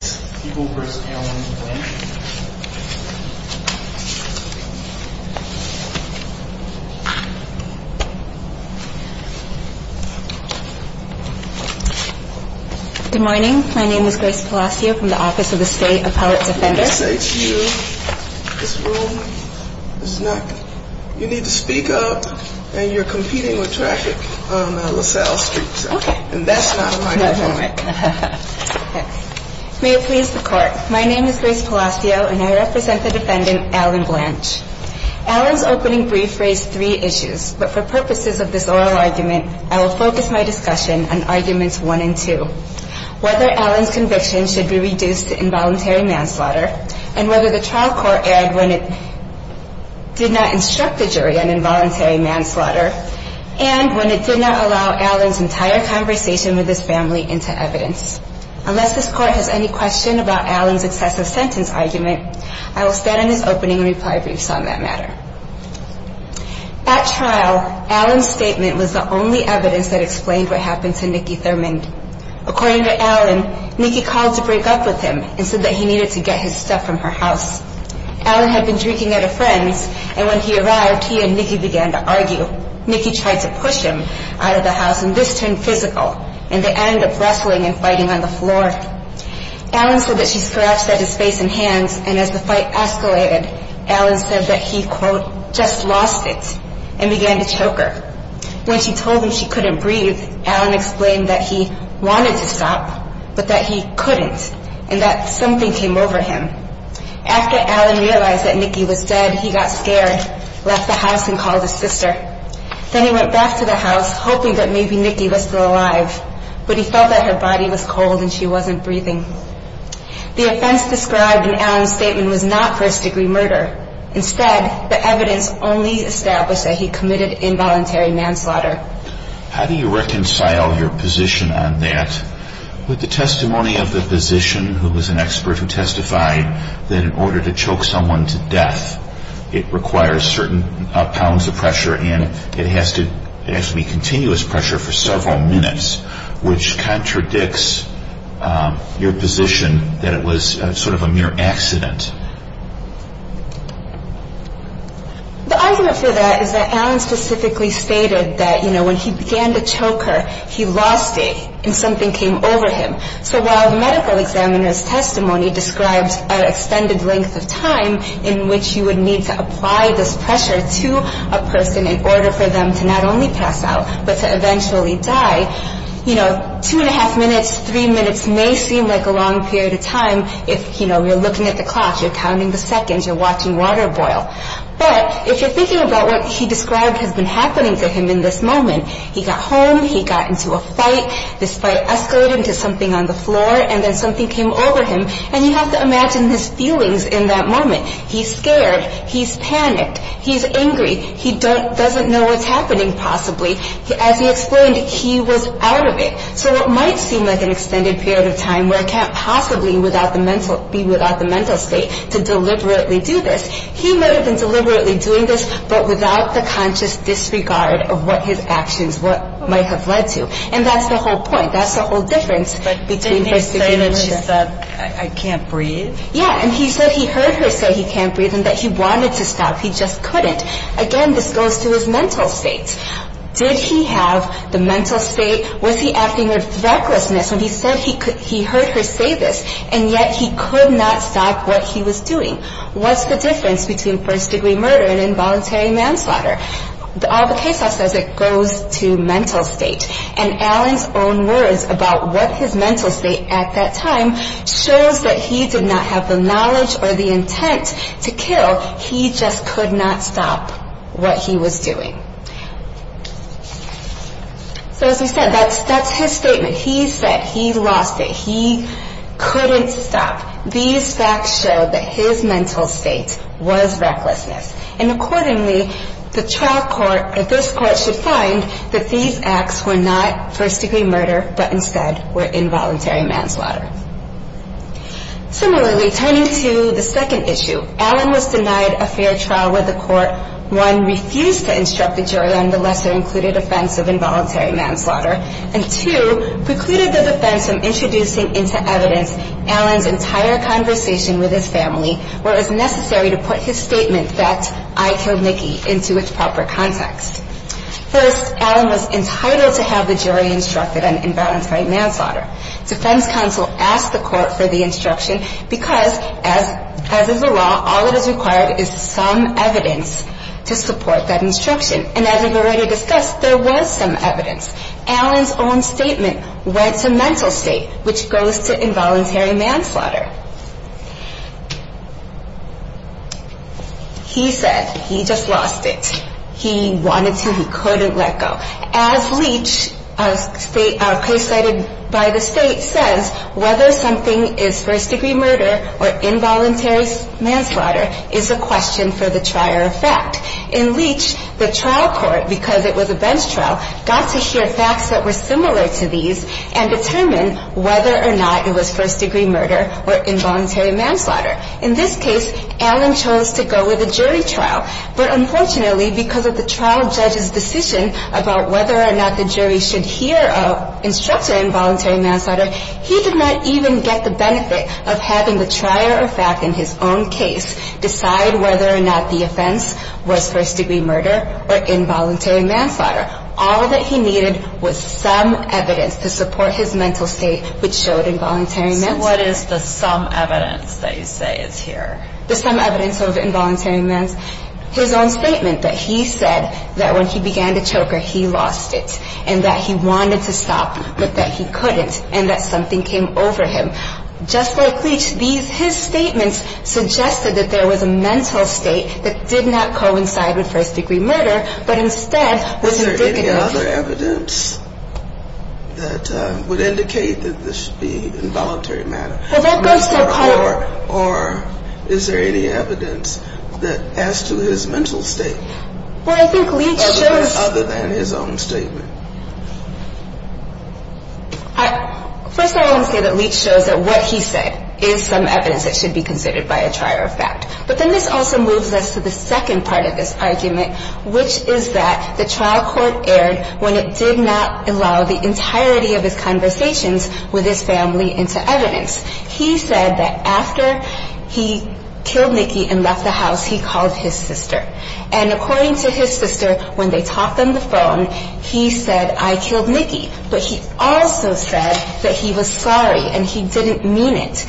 Good morning. My name is Grace Palacio from the Office of the State Appellate Defender. Let me say to you, this room, you need to speak up and you're competing with traffic on LaSalle Street. That's not an argument I want to make. May it please the Court, my name is Grace Palacio and I represent the defendant, Alan Blanch. Alan's opening brief raised three issues, but for purposes of this oral argument, I will focus my discussion on arguments one and two. Whether Alan's conviction should be reduced to involuntary manslaughter, and whether the trial court erred when it did not instruct the jury on involuntary manslaughter, and when it did not allow Alan's entire conversation with his family into evidence. Unless this Court has any question about Alan's excessive sentence argument, I will stand on his opening reply briefs on that matter. At trial, Alan's statement was the only evidence that explained what happened to Nikki Thurmond. According to Alan, Nikki called to break up with him and said that he needed to get his stuff from her house. Alan had been drinking at a friend's, and when he arrived, he and Nikki began to argue. Nikki tried to push him out of the house, and this turned physical, and they ended up wrestling and fighting on the floor. Alan said that she scratched at his face and hands, and as the fight escalated, Alan said that he, quote, just lost it, and began to choke her. When she told him she couldn't breathe, Alan explained that he wanted to stop, but that he couldn't, and that something came over him. After Alan realized that Nikki was dead, he got scared, left the house, and called his sister. Then he went back to the house, hoping that maybe Nikki was still alive, but he felt that her body was cold and she wasn't breathing. The offense described in Alan's statement was not first-degree murder. Instead, the evidence only established that he committed involuntary manslaughter. How do you reconcile your position on that with the testimony of the physician who was an expert who testified that in order to choke someone to death, it requires certain pounds of pressure and it has to be continuous pressure for several minutes, which contradicts your position that it was sort of a mere accident? The argument for that is that Alan specifically stated that, you know, when he began to choke her, he lost it, and something came over him. So while the medical examiner's testimony describes an extended length of time in which you would need to apply this pressure to a person in order for them to not only pass out, but to eventually die, you know, two and a half minutes, three minutes may seem like a long period of time if, you know, you're looking at the clock, you're counting the seconds, you're watching water boil. But if you're thinking about what he described has been happening to him in this moment, he got home, he got into a fight, this fight escalated into something on the floor, and then something came over him, and you have to imagine his feelings in that moment. He's scared, he's panicked, he's angry, he doesn't know what's happening possibly. As he explained, he was out of it. So it might seem like an extended period of time where it can't possibly be without the mental state to deliberately do this. He may have been deliberately doing this, but without the conscious disregard of what his actions might have led to. And that's the whole point, that's the whole difference between... But didn't he say that she said, I can't breathe? Yeah, and he said he heard her say he can't breathe and that he wanted to stop, he just couldn't. Again, this goes to his mental state. Did he have the mental state? Was he acting with recklessness when he said he heard her say this, and yet he could not stop what he was doing? What's the difference between first-degree murder and involuntary manslaughter? All the case law says it goes to mental state. And Allen's own words about what his mental state at that time shows that he did not have the knowledge or the intent to kill. He just could not stop what he was doing. So as we said, that's his statement. He said he lost it. He couldn't stop. These facts show that his mental state was recklessness. And accordingly, the trial court or this court should find that these acts were not first-degree murder, but instead were involuntary manslaughter. Similarly, turning to the second issue, Allen was denied a fair trial where the court, one, refused to instruct the jury on the lesser-included offense of involuntary manslaughter, and two, precluded the defense from introducing into evidence Allen's entire conversation with his family where it was necessary to put his statement that I killed Nikki into its proper context. First, Allen was entitled to have the jury instructed on involuntary manslaughter. Defense counsel asked the court for the instruction because, as is the law, all that is required is some evidence to support that instruction. And as we've already discussed, there was some evidence. Allen's own statement went to mental state, which goes to involuntary manslaughter. He said he just lost it. He wanted to. He couldn't let go. As Leach, presided by the state, says, whether something is first-degree murder or involuntary manslaughter is a question for the trier of fact. In Leach, the trial court, because it was a bench trial, got to hear facts that were similar to these and determine whether or not it was first-degree murder or involuntary manslaughter. In this case, Allen chose to go with a jury trial. But unfortunately, because of the trial judge's decision about whether or not the jury should hear an instructor involuntary manslaughter, he did not even get the benefit of having the trier of fact in his own case decide whether or not the offense was first-degree murder or involuntary manslaughter. All that he needed was some evidence to support his mental state, which showed involuntary manslaughter. So what is the some evidence that you say is here? The some evidence of involuntary manslaughter. Well, that goes to a point. Or is there any evidence that as to his own statement that he said that when he began the choker, he lost it and that he wanted to stop but that he couldn't and that something came over him? Just like Leach, his statements suggested that there was a mental state that did not coincide with first-degree murder, but instead was indicative of it. Well, I think Leach shows... Other than his own statement. First of all, I want to say that Leach shows that what he said is some evidence that should be considered by a trier of fact. But then this also moves us to the second part of this argument, which is that the trial court erred when it did not allow the entirety of his conversations with his family into evidence. He said that after he killed Nikki and left the house, he called his sister. And according to his sister, when they talked on the phone, he said, I killed Nikki. But he also said that he was sorry and he didn't mean it.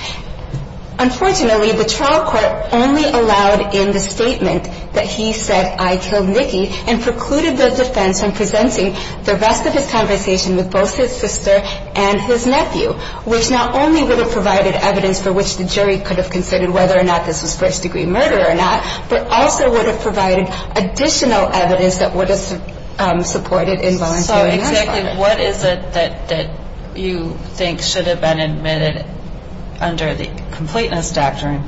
Unfortunately, the trial court only allowed in the statement that he said, I killed Nikki and precluded the defense from presenting the rest of his conversation with both his sister and his nephew, which not only would have provided evidence for which the jury could have considered whether or not this was first-degree murder or not, but also would have provided additional evidence that would have supported involuntary manslaughter. What is it that you think should have been admitted under the completeness doctrine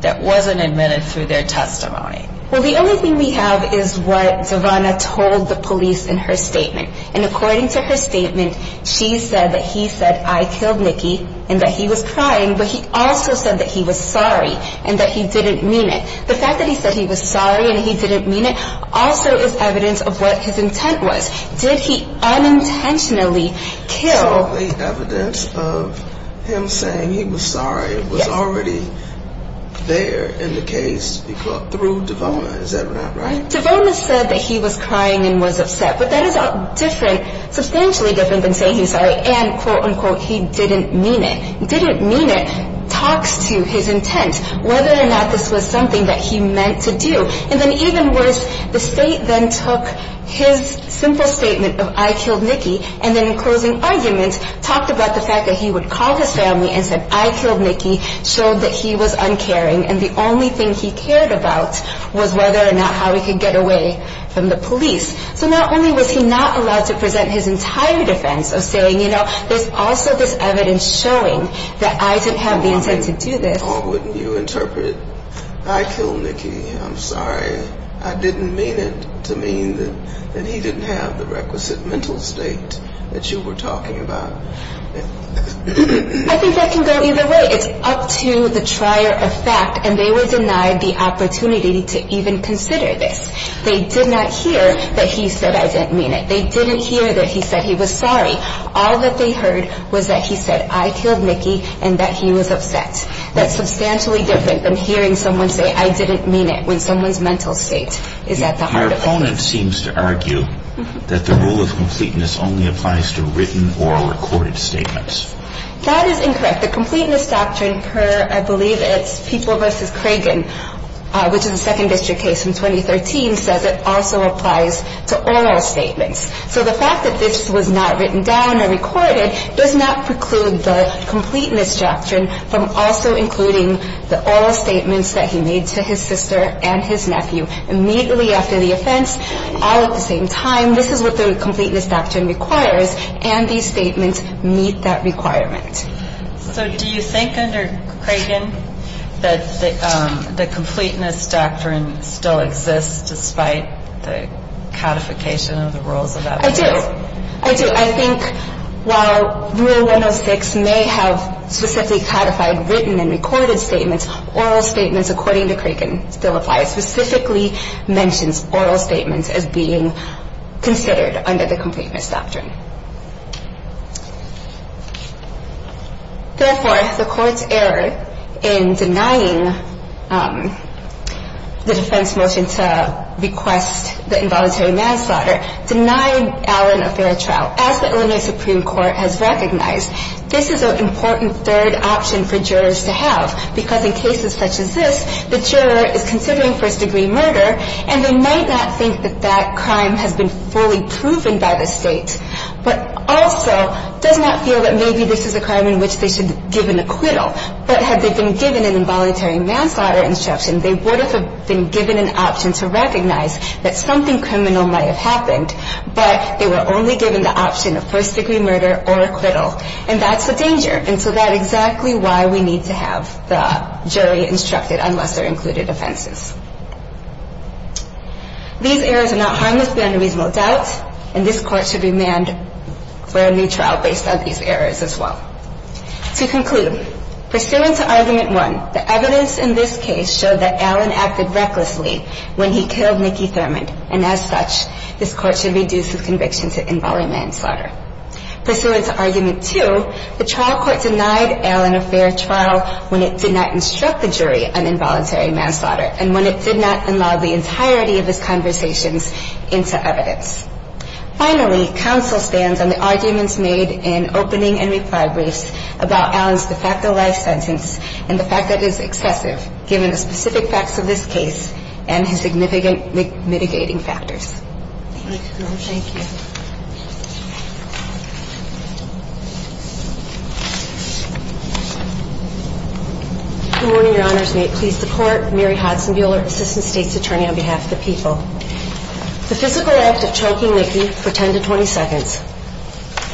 that wasn't admitted through their testimony? Well, the only thing we have is what Savannah told the police in her statement. And according to her statement, she said that he said, I killed Nikki and that he was crying. But he also said that he was sorry and that he didn't mean it. The fact that he said he was sorry and he didn't mean it also is evidence of what his intent was. Did he unintentionally kill? So the evidence of him saying he was sorry was already there in the case through Devona, is that right? Devona said that he was crying and was upset. But that is different, substantially different than saying he's sorry and quote, unquote, he didn't mean it. Didn't mean it talks to his intent, whether or not this was something that he meant to do. And then even worse, the state then took his simple statement of I killed Nikki and then in closing argument, talked about the fact that he would call his family and said, I killed Nikki, showed that he was uncaring. And the only thing he cared about was whether or not how he could get away from the police. So not only was he not allowed to present his entire defense of saying, you know, there's also this evidence showing that I didn't have the intent to do this. Or wouldn't you interpret, I killed Nikki. I'm sorry. I didn't mean it to mean that he didn't have the requisite mental state that you were talking about. I think that can go either way. It's up to the trier of fact. And they were denied the opportunity to even consider this. They did not hear that he said I didn't mean it. They didn't hear that he said he was sorry. All that they heard was that he said I killed Nikki and that he was upset. That's substantially different than hearing someone say I didn't mean it when someone's mental state is at the heart of it. Your opponent seems to argue that the rule of completeness only applies to written or recorded statements. That is incorrect. The completeness doctrine per, I believe it's People v. Cragen, which is a second district case from 2013, says it also applies to oral statements. So the fact that this was not written down or recorded does not preclude the completeness doctrine from also including the oral statements that he made to his sister and his nephew immediately after the offense. All at the same time, this is what the completeness doctrine requires, and these statements meet that requirement. So do you think under Cragen that the completeness doctrine still exists despite the codification of the rules of that place? I do. I do. I think while Rule 106 may have specifically codified written and recorded statements, oral statements according to Cragen still apply. It specifically mentions oral statements as being considered under the completeness doctrine. Therefore, the Court's error in denying the defense motion to request the involuntary manslaughter denied Allen a fair trial, as the Illinois Supreme Court has recognized. This is an important third option for jurors to have, because in cases such as this, the juror is considering first-degree murder, and they might not think that that crime has been fully proven by the state, but also does not feel that maybe this is a crime in which they should give an acquittal. But had they been given an involuntary manslaughter instruction, they would have been given an option to recognize that something criminal might have happened, but they were only given the option of first-degree murder or acquittal, and that's the danger. And so that's exactly why we need to have the jury instructed unless there are included offenses. These errors are not harmless beyond a reasonable doubt, and this Court should remand for a new trial based on these errors as well. To conclude, pursuant to Argument 1, the evidence in this case showed that Allen acted recklessly when he killed Nikki Thurmond, and as such, this Court should reduce his conviction to involuntary manslaughter. Pursuant to Argument 2, the trial court denied Allen a fair trial when it did not instruct the jury on involuntary manslaughter, and when it did not allow the entirety of his conversations into evidence. Finally, counsel stands on the arguments made in opening and reply briefs about Allen's de facto life sentence and the fact that it is excessive, given the specific facts of this case and his significant mitigating factors. Thank you. Thank you. Good morning, Your Honors. May it please the Court, Mary Hodson Buehler, Assistant State's Attorney on behalf of the people. The physical act of choking Nikki for 10 to 20 seconds,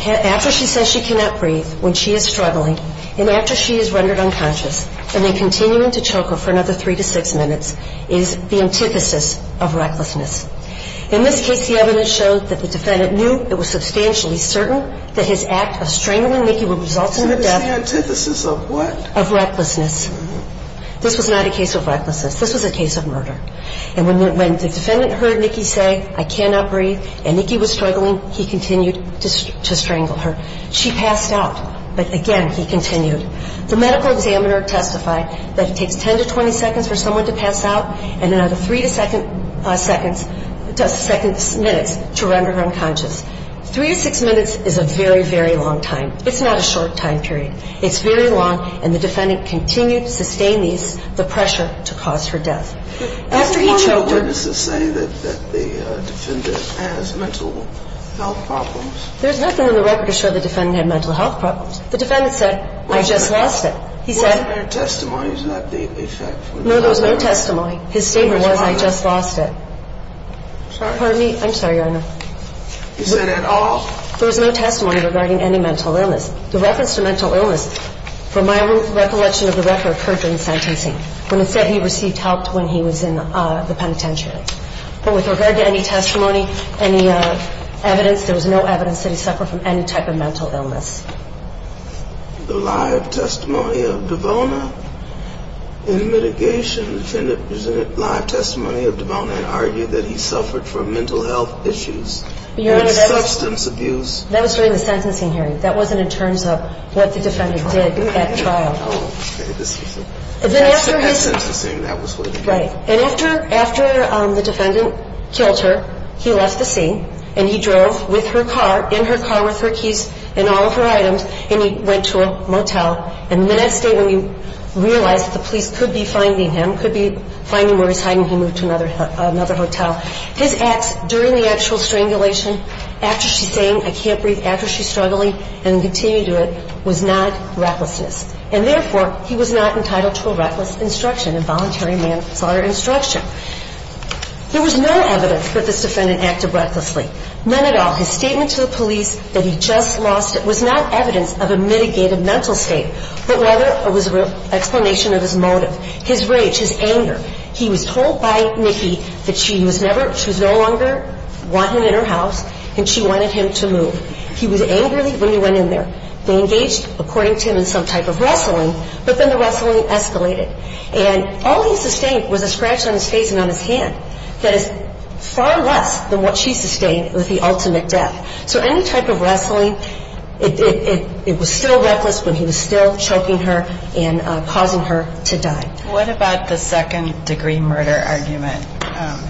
after she says she cannot breathe when she is struggling, and after she is rendered unconscious, and then continuing to choke her for another 3 to 6 minutes, is the antithesis of recklessness. In this case, the evidence showed that the defendant knew it was substantially certain that his act of strangling Nikki would result in the death of recklessness. This was not a case of recklessness. This was a case of murder. And when the defendant heard Nikki say, I cannot breathe, and Nikki was struggling, he continued to strangle her. She passed out, but again, he continued. The medical examiner testified that it takes 10 to 20 seconds for someone to pass out, and another 3 to 6 minutes to render her unconscious. 3 to 6 minutes is a very, very long time. It's not a short time period. It's very long, and the defendant continued to sustain these, the pressure to cause her death. There's a lot of witnesses saying that the defendant has mental health problems. There's nothing in the record to show the defendant had mental health problems. The defendant said, I just lost it. Wasn't there testimony to that effect? No, there was no testimony. His statement was, I just lost it. Pardon me? I'm sorry, Your Honor. You said, at all? There was no testimony regarding any mental illness. The reference to mental illness, from my recollection of the record, occurred during sentencing, when it said he received help when he was in the penitentiary. But with regard to any testimony, any evidence, there was no evidence that he suffered from any type of mental illness. The live testimony of DeVona? In mitigation, the defendant presented live testimony of DeVona and argued that he suffered from mental health issues and substance abuse. That was during the sentencing hearing. That wasn't in terms of what the defendant did at trial. Oh, okay. That was at sentencing. Right. And after the defendant killed her, he left the scene, and he drove with her car, in her car with her keys and all of her items, and he went to a motel. And the next day, when he realized that the police could be finding him, could be finding where he's hiding, he moved to another hotel. His acts during the actual strangulation, after she's saying, I can't breathe, after she's struggling, and continued to do it, was not recklessness. And therefore, he was not entitled to a reckless instruction. A voluntary manslaughter instruction. There was no evidence that this defendant acted recklessly. None at all. His statement to the police that he just lost it was not evidence of a mitigated mental state, but rather it was an explanation of his motive, his rage, his anger. He was told by Nikki that she was no longer wanting him in her house and she wanted him to move. He was angry when he went in there. They engaged, according to him, in some type of wrestling, but then the wrestling escalated. And all he sustained was a scratch on his face and on his hand that is far less than what she sustained with the ultimate death. So any type of wrestling, it was still reckless, but he was still choking her and causing her to die. What about the second-degree murder argument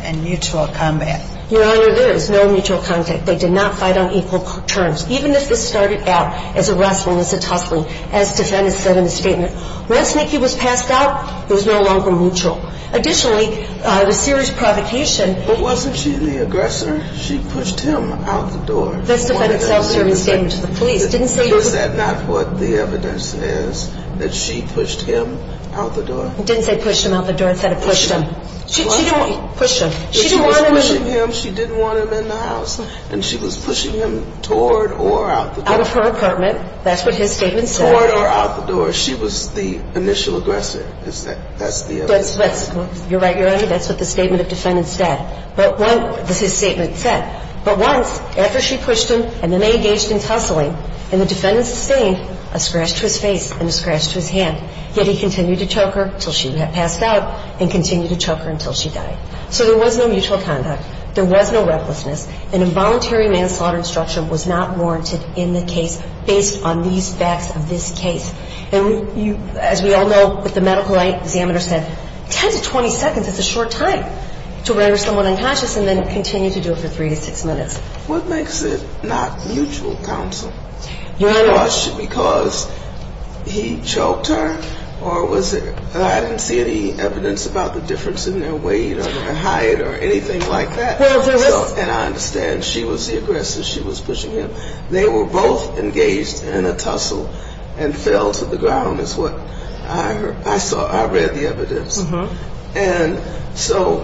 and mutual combat? Your Honor, there is no mutual contact. They did not fight on equal terms. Even if this started out as a wrestling, as a tussling, as defendant said in his statement, once Nikki was passed out, it was no longer mutual. Additionally, the serious provocation. But wasn't she the aggressor? She pushed him out the door. That's the defendant's self-determined statement to the police. Didn't say he was. Is that not what the evidence says, that she pushed him out the door? It didn't say pushed him out the door. It said pushed him. Pushed him. She didn't want him. She was pushing him. She didn't want him in the house. And she was pushing him toward or out the door. Out of her apartment. That's what his statement said. Toward or out the door. She was the initial aggressor. Is that? That's the evidence. You're right, Your Honor. That's what the statement of defendants said. But what his statement said, but once, after she pushed him and then they engaged in tussling and the defendant sustained a scratch to his face and a scratch to his hand, yet he continued to choke her until she passed out and continued to choke her until she died. So there was no mutual contact. There was no recklessness. An involuntary manslaughter instruction was not warranted in the case based on these facts of this case. And as we all know, what the medical examiner said, 10 to 20 seconds is a short time to murder someone unconscious and then continue to do it for three to six minutes. What makes it not mutual counsel? Your Honor. Because he choked her? Or was it that I didn't see any evidence about the difference in their weight or their height or anything like that? And I understand she was the aggressor. She was pushing him. They were both engaged in a tussle and fell to the ground is what I saw. I read the evidence. And so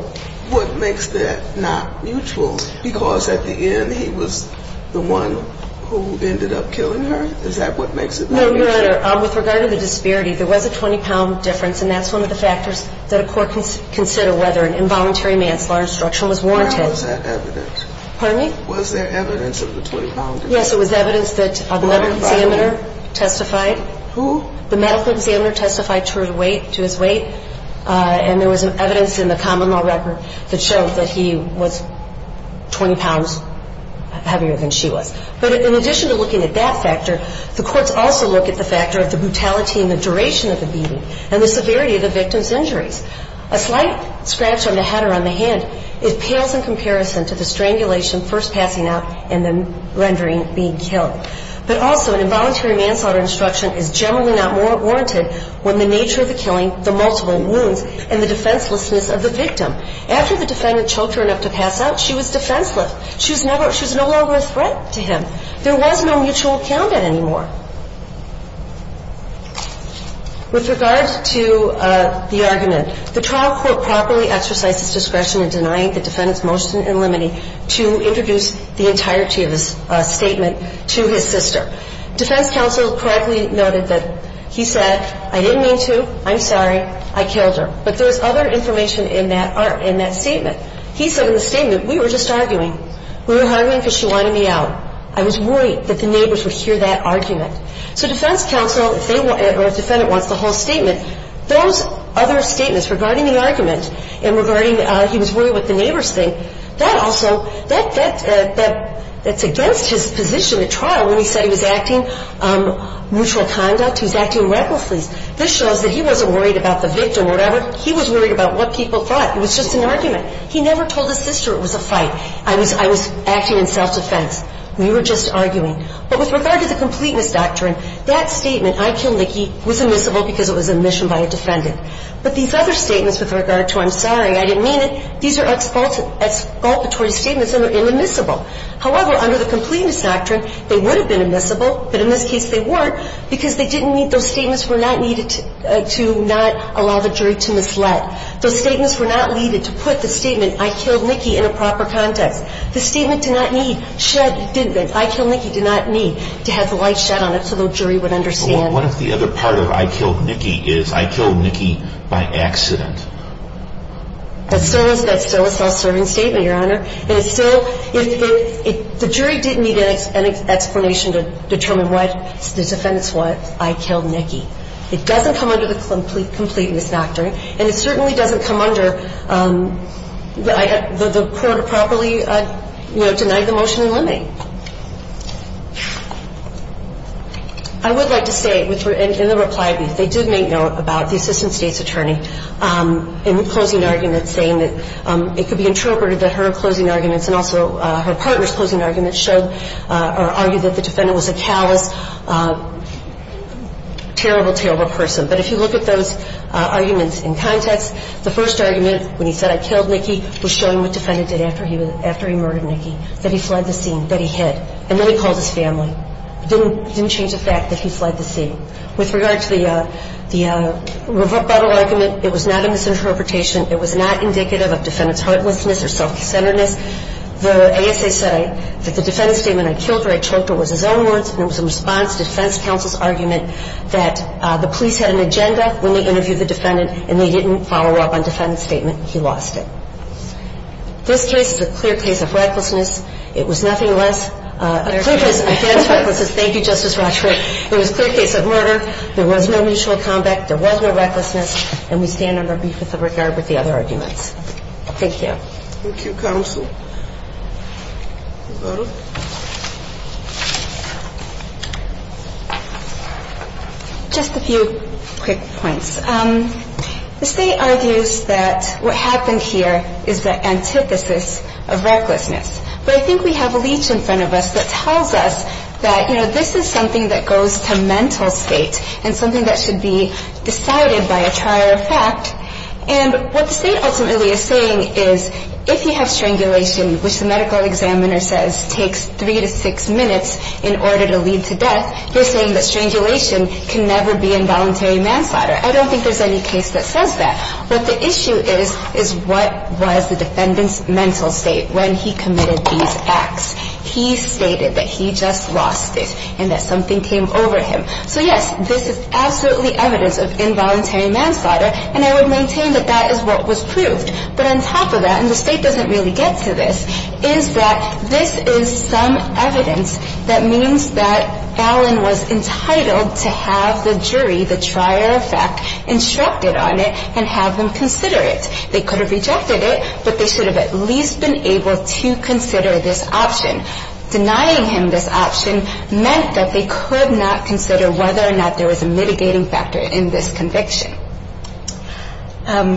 what makes that not mutual? Because at the end he was the one who ended up killing her? Is that what makes it not mutual? No, Your Honor. With regard to the disparity, there was a 20-pound difference, and that's one of the factors that a court can consider whether an involuntary manslaughter instruction was warranted. Where was that evidence? Pardon me? Was there evidence of the 20-pound difference? Yes, there was evidence that the medical examiner testified. Who? The medical examiner testified to his weight, and there was evidence in the common law record that showed that he was 20 pounds heavier than she was. But in addition to looking at that factor, the courts also look at the factor of the brutality and the duration of the beating and the severity of the victim's injuries. A slight scratch on the head or on the hand pales in comparison to the strangulation first passing out and then rendering being killed. But also an involuntary manslaughter instruction is generally not warranted when the nature of the killing, the multiple wounds, and the defenselessness of the victim. After the defendant choked her enough to pass out, she was defenseless. She was no longer a threat to him. There was no mutual countenance anymore. With regard to the argument, the trial court properly exercised its discretion in denying the defendant's motion in limine to introduce the entirety of his statement to his sister. Defense counsel correctly noted that he said, I didn't mean to. I'm sorry. I killed her. But there was other information in that statement. He said in the statement, we were just arguing. We were arguing because she wanted me out. I was worried that the neighbors would hear that argument. So defense counsel, or if the defendant wants the whole statement, those other statements regarding the argument and regarding he was worried what the neighbors think, that also, that's against his position at trial when he said he was acting mutual conduct, he was acting recklessly. This shows that he wasn't worried about the victim or whatever. He was worried about what people thought. He never told his sister it was a fight. I was acting in self-defense. We were just arguing. But with regard to the completeness doctrine, that statement, I killed Nikki, was admissible because it was admission by a defendant. But these other statements with regard to I'm sorry, I didn't mean it, these are expulsory statements and they're inadmissible. However, under the completeness doctrine, they would have been admissible, but in this case they weren't because they didn't meet those statements were not needed to not allow the jury to mislead. Those statements were not needed to put the statement I killed Nikki in a proper context. The statement did not need, I killed Nikki did not need to have the light shed on it so the jury would understand. But what if the other part of I killed Nikki is I killed Nikki by accident? That's still a self-serving statement, Your Honor. And it's still, the jury did need an explanation to determine what this defendant's what. I killed Nikki. It doesn't come under the completeness doctrine. And it certainly doesn't come under the court improperly, you know, denying the motion in limine. I would like to say, in the reply brief, they did make note about the assistant state's attorney in the closing argument saying that it could be interpreted that her closing arguments and also her partner's closing arguments showed or argued that the defendant was a callous, terrible, terrible person. But if you look at those arguments in context, the first argument when he said I killed Nikki was showing what the defendant did after he murdered Nikki, that he fled the scene, that he hid. And then he called his family. It didn't change the fact that he fled the scene. With regard to the rebuttal argument, it was not a misinterpretation. It was not indicative of defendant's heartlessness or self-centeredness. The ASA said that the defendant's statement, I killed her, I choked her, was his own words and it was a response to defense counsel's argument that the police had an agenda when they interviewed the defendant and they didn't follow up on defendant's statement. He lost it. This case is a clear case of recklessness. It was nothing less. A clear case of advanced recklessness. Thank you, Justice Rochford. It was a clear case of murder. There was no mutual combat. There was no recklessness. And we stand on our brief with regard with the other arguments. Thank you. Thank you, counsel. Just a few quick points. The state argues that what happened here is the antithesis of recklessness. But I think we have a leech in front of us that tells us that, you know, this is something that goes to mental state and something that should be decided by a trial or fact. And what the state ultimately is saying is if you have strangulation, which the medical examiner says takes three to six minutes in order to lead to death, you're saying that strangulation can never be involuntary manslaughter. I don't think there's any case that says that. What the issue is is what was the defendant's mental state when he committed these acts. He stated that he just lost it and that something came over him. So, yes, this is absolutely evidence of involuntary manslaughter and I would maintain that that is what was proved. But on top of that, and the state doesn't really get to this, is that this is some evidence that means that Allen was entitled to have the jury, the trial or fact, instructed on it and have them consider it. They could have rejected it, but they should have at least been able to consider this option. Denying him this option meant that they could not consider whether or not there was a mitigating factor in this conviction.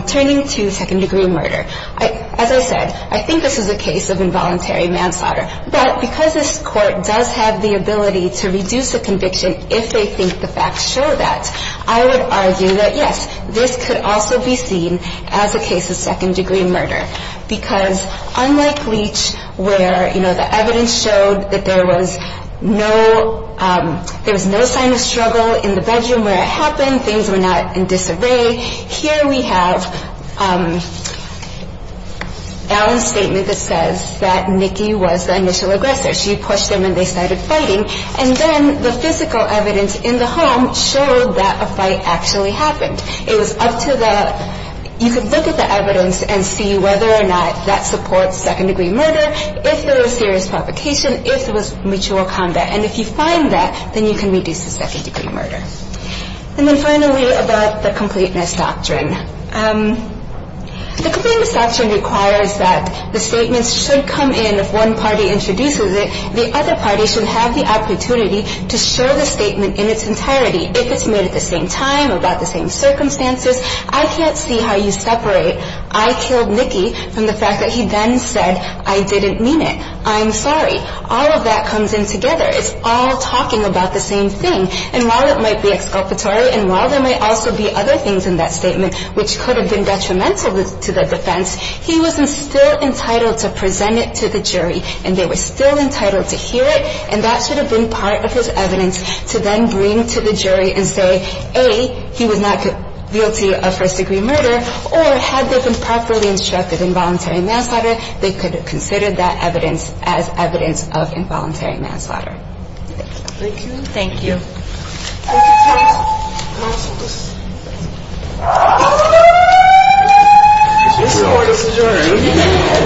Turning to second-degree murder, as I said, I think this is a case of involuntary manslaughter. But because this court does have the ability to reduce a conviction if they think the facts show that, I would argue that, yes, this could also be seen as a case of second-degree murder. Because unlike Leach, where the evidence showed that there was no sign of struggle in the bedroom where it happened, things were not in disarray, here we have Allen's statement that says that Nikki was the initial aggressor. She pushed them and they started fighting. And then the physical evidence in the home showed that a fight actually happened. It was up to the, you could look at the evidence and see whether or not that supports second-degree murder, if there was serious provocation, if there was mutual combat. And if you find that, then you can reduce the second-degree murder. And then finally, about the completeness doctrine. The completeness doctrine requires that the statements should come in, if one party introduces it, the other party should have the opportunity to share the statement in its entirety. If it's made at the same time, about the same circumstances, I can't see how you separate, I killed Nikki from the fact that he then said, I didn't mean it, I'm sorry. All of that comes in together. It's all talking about the same thing. And while it might be exculpatory and while there might also be other things in that statement, which could have been detrimental to the defense, he was still entitled to present it to the jury. And they were still entitled to hear it. And that should have been part of his evidence to then bring to the jury and say, A, he was not guilty of first-degree murder, or had they been properly instructed in voluntary manslaughter, they could have considered that evidence as evidence of involuntary manslaughter. Thank you. Thank you. Thank you. Thank you. Thank you. Thank you. Thank you. Thank you. Thank you.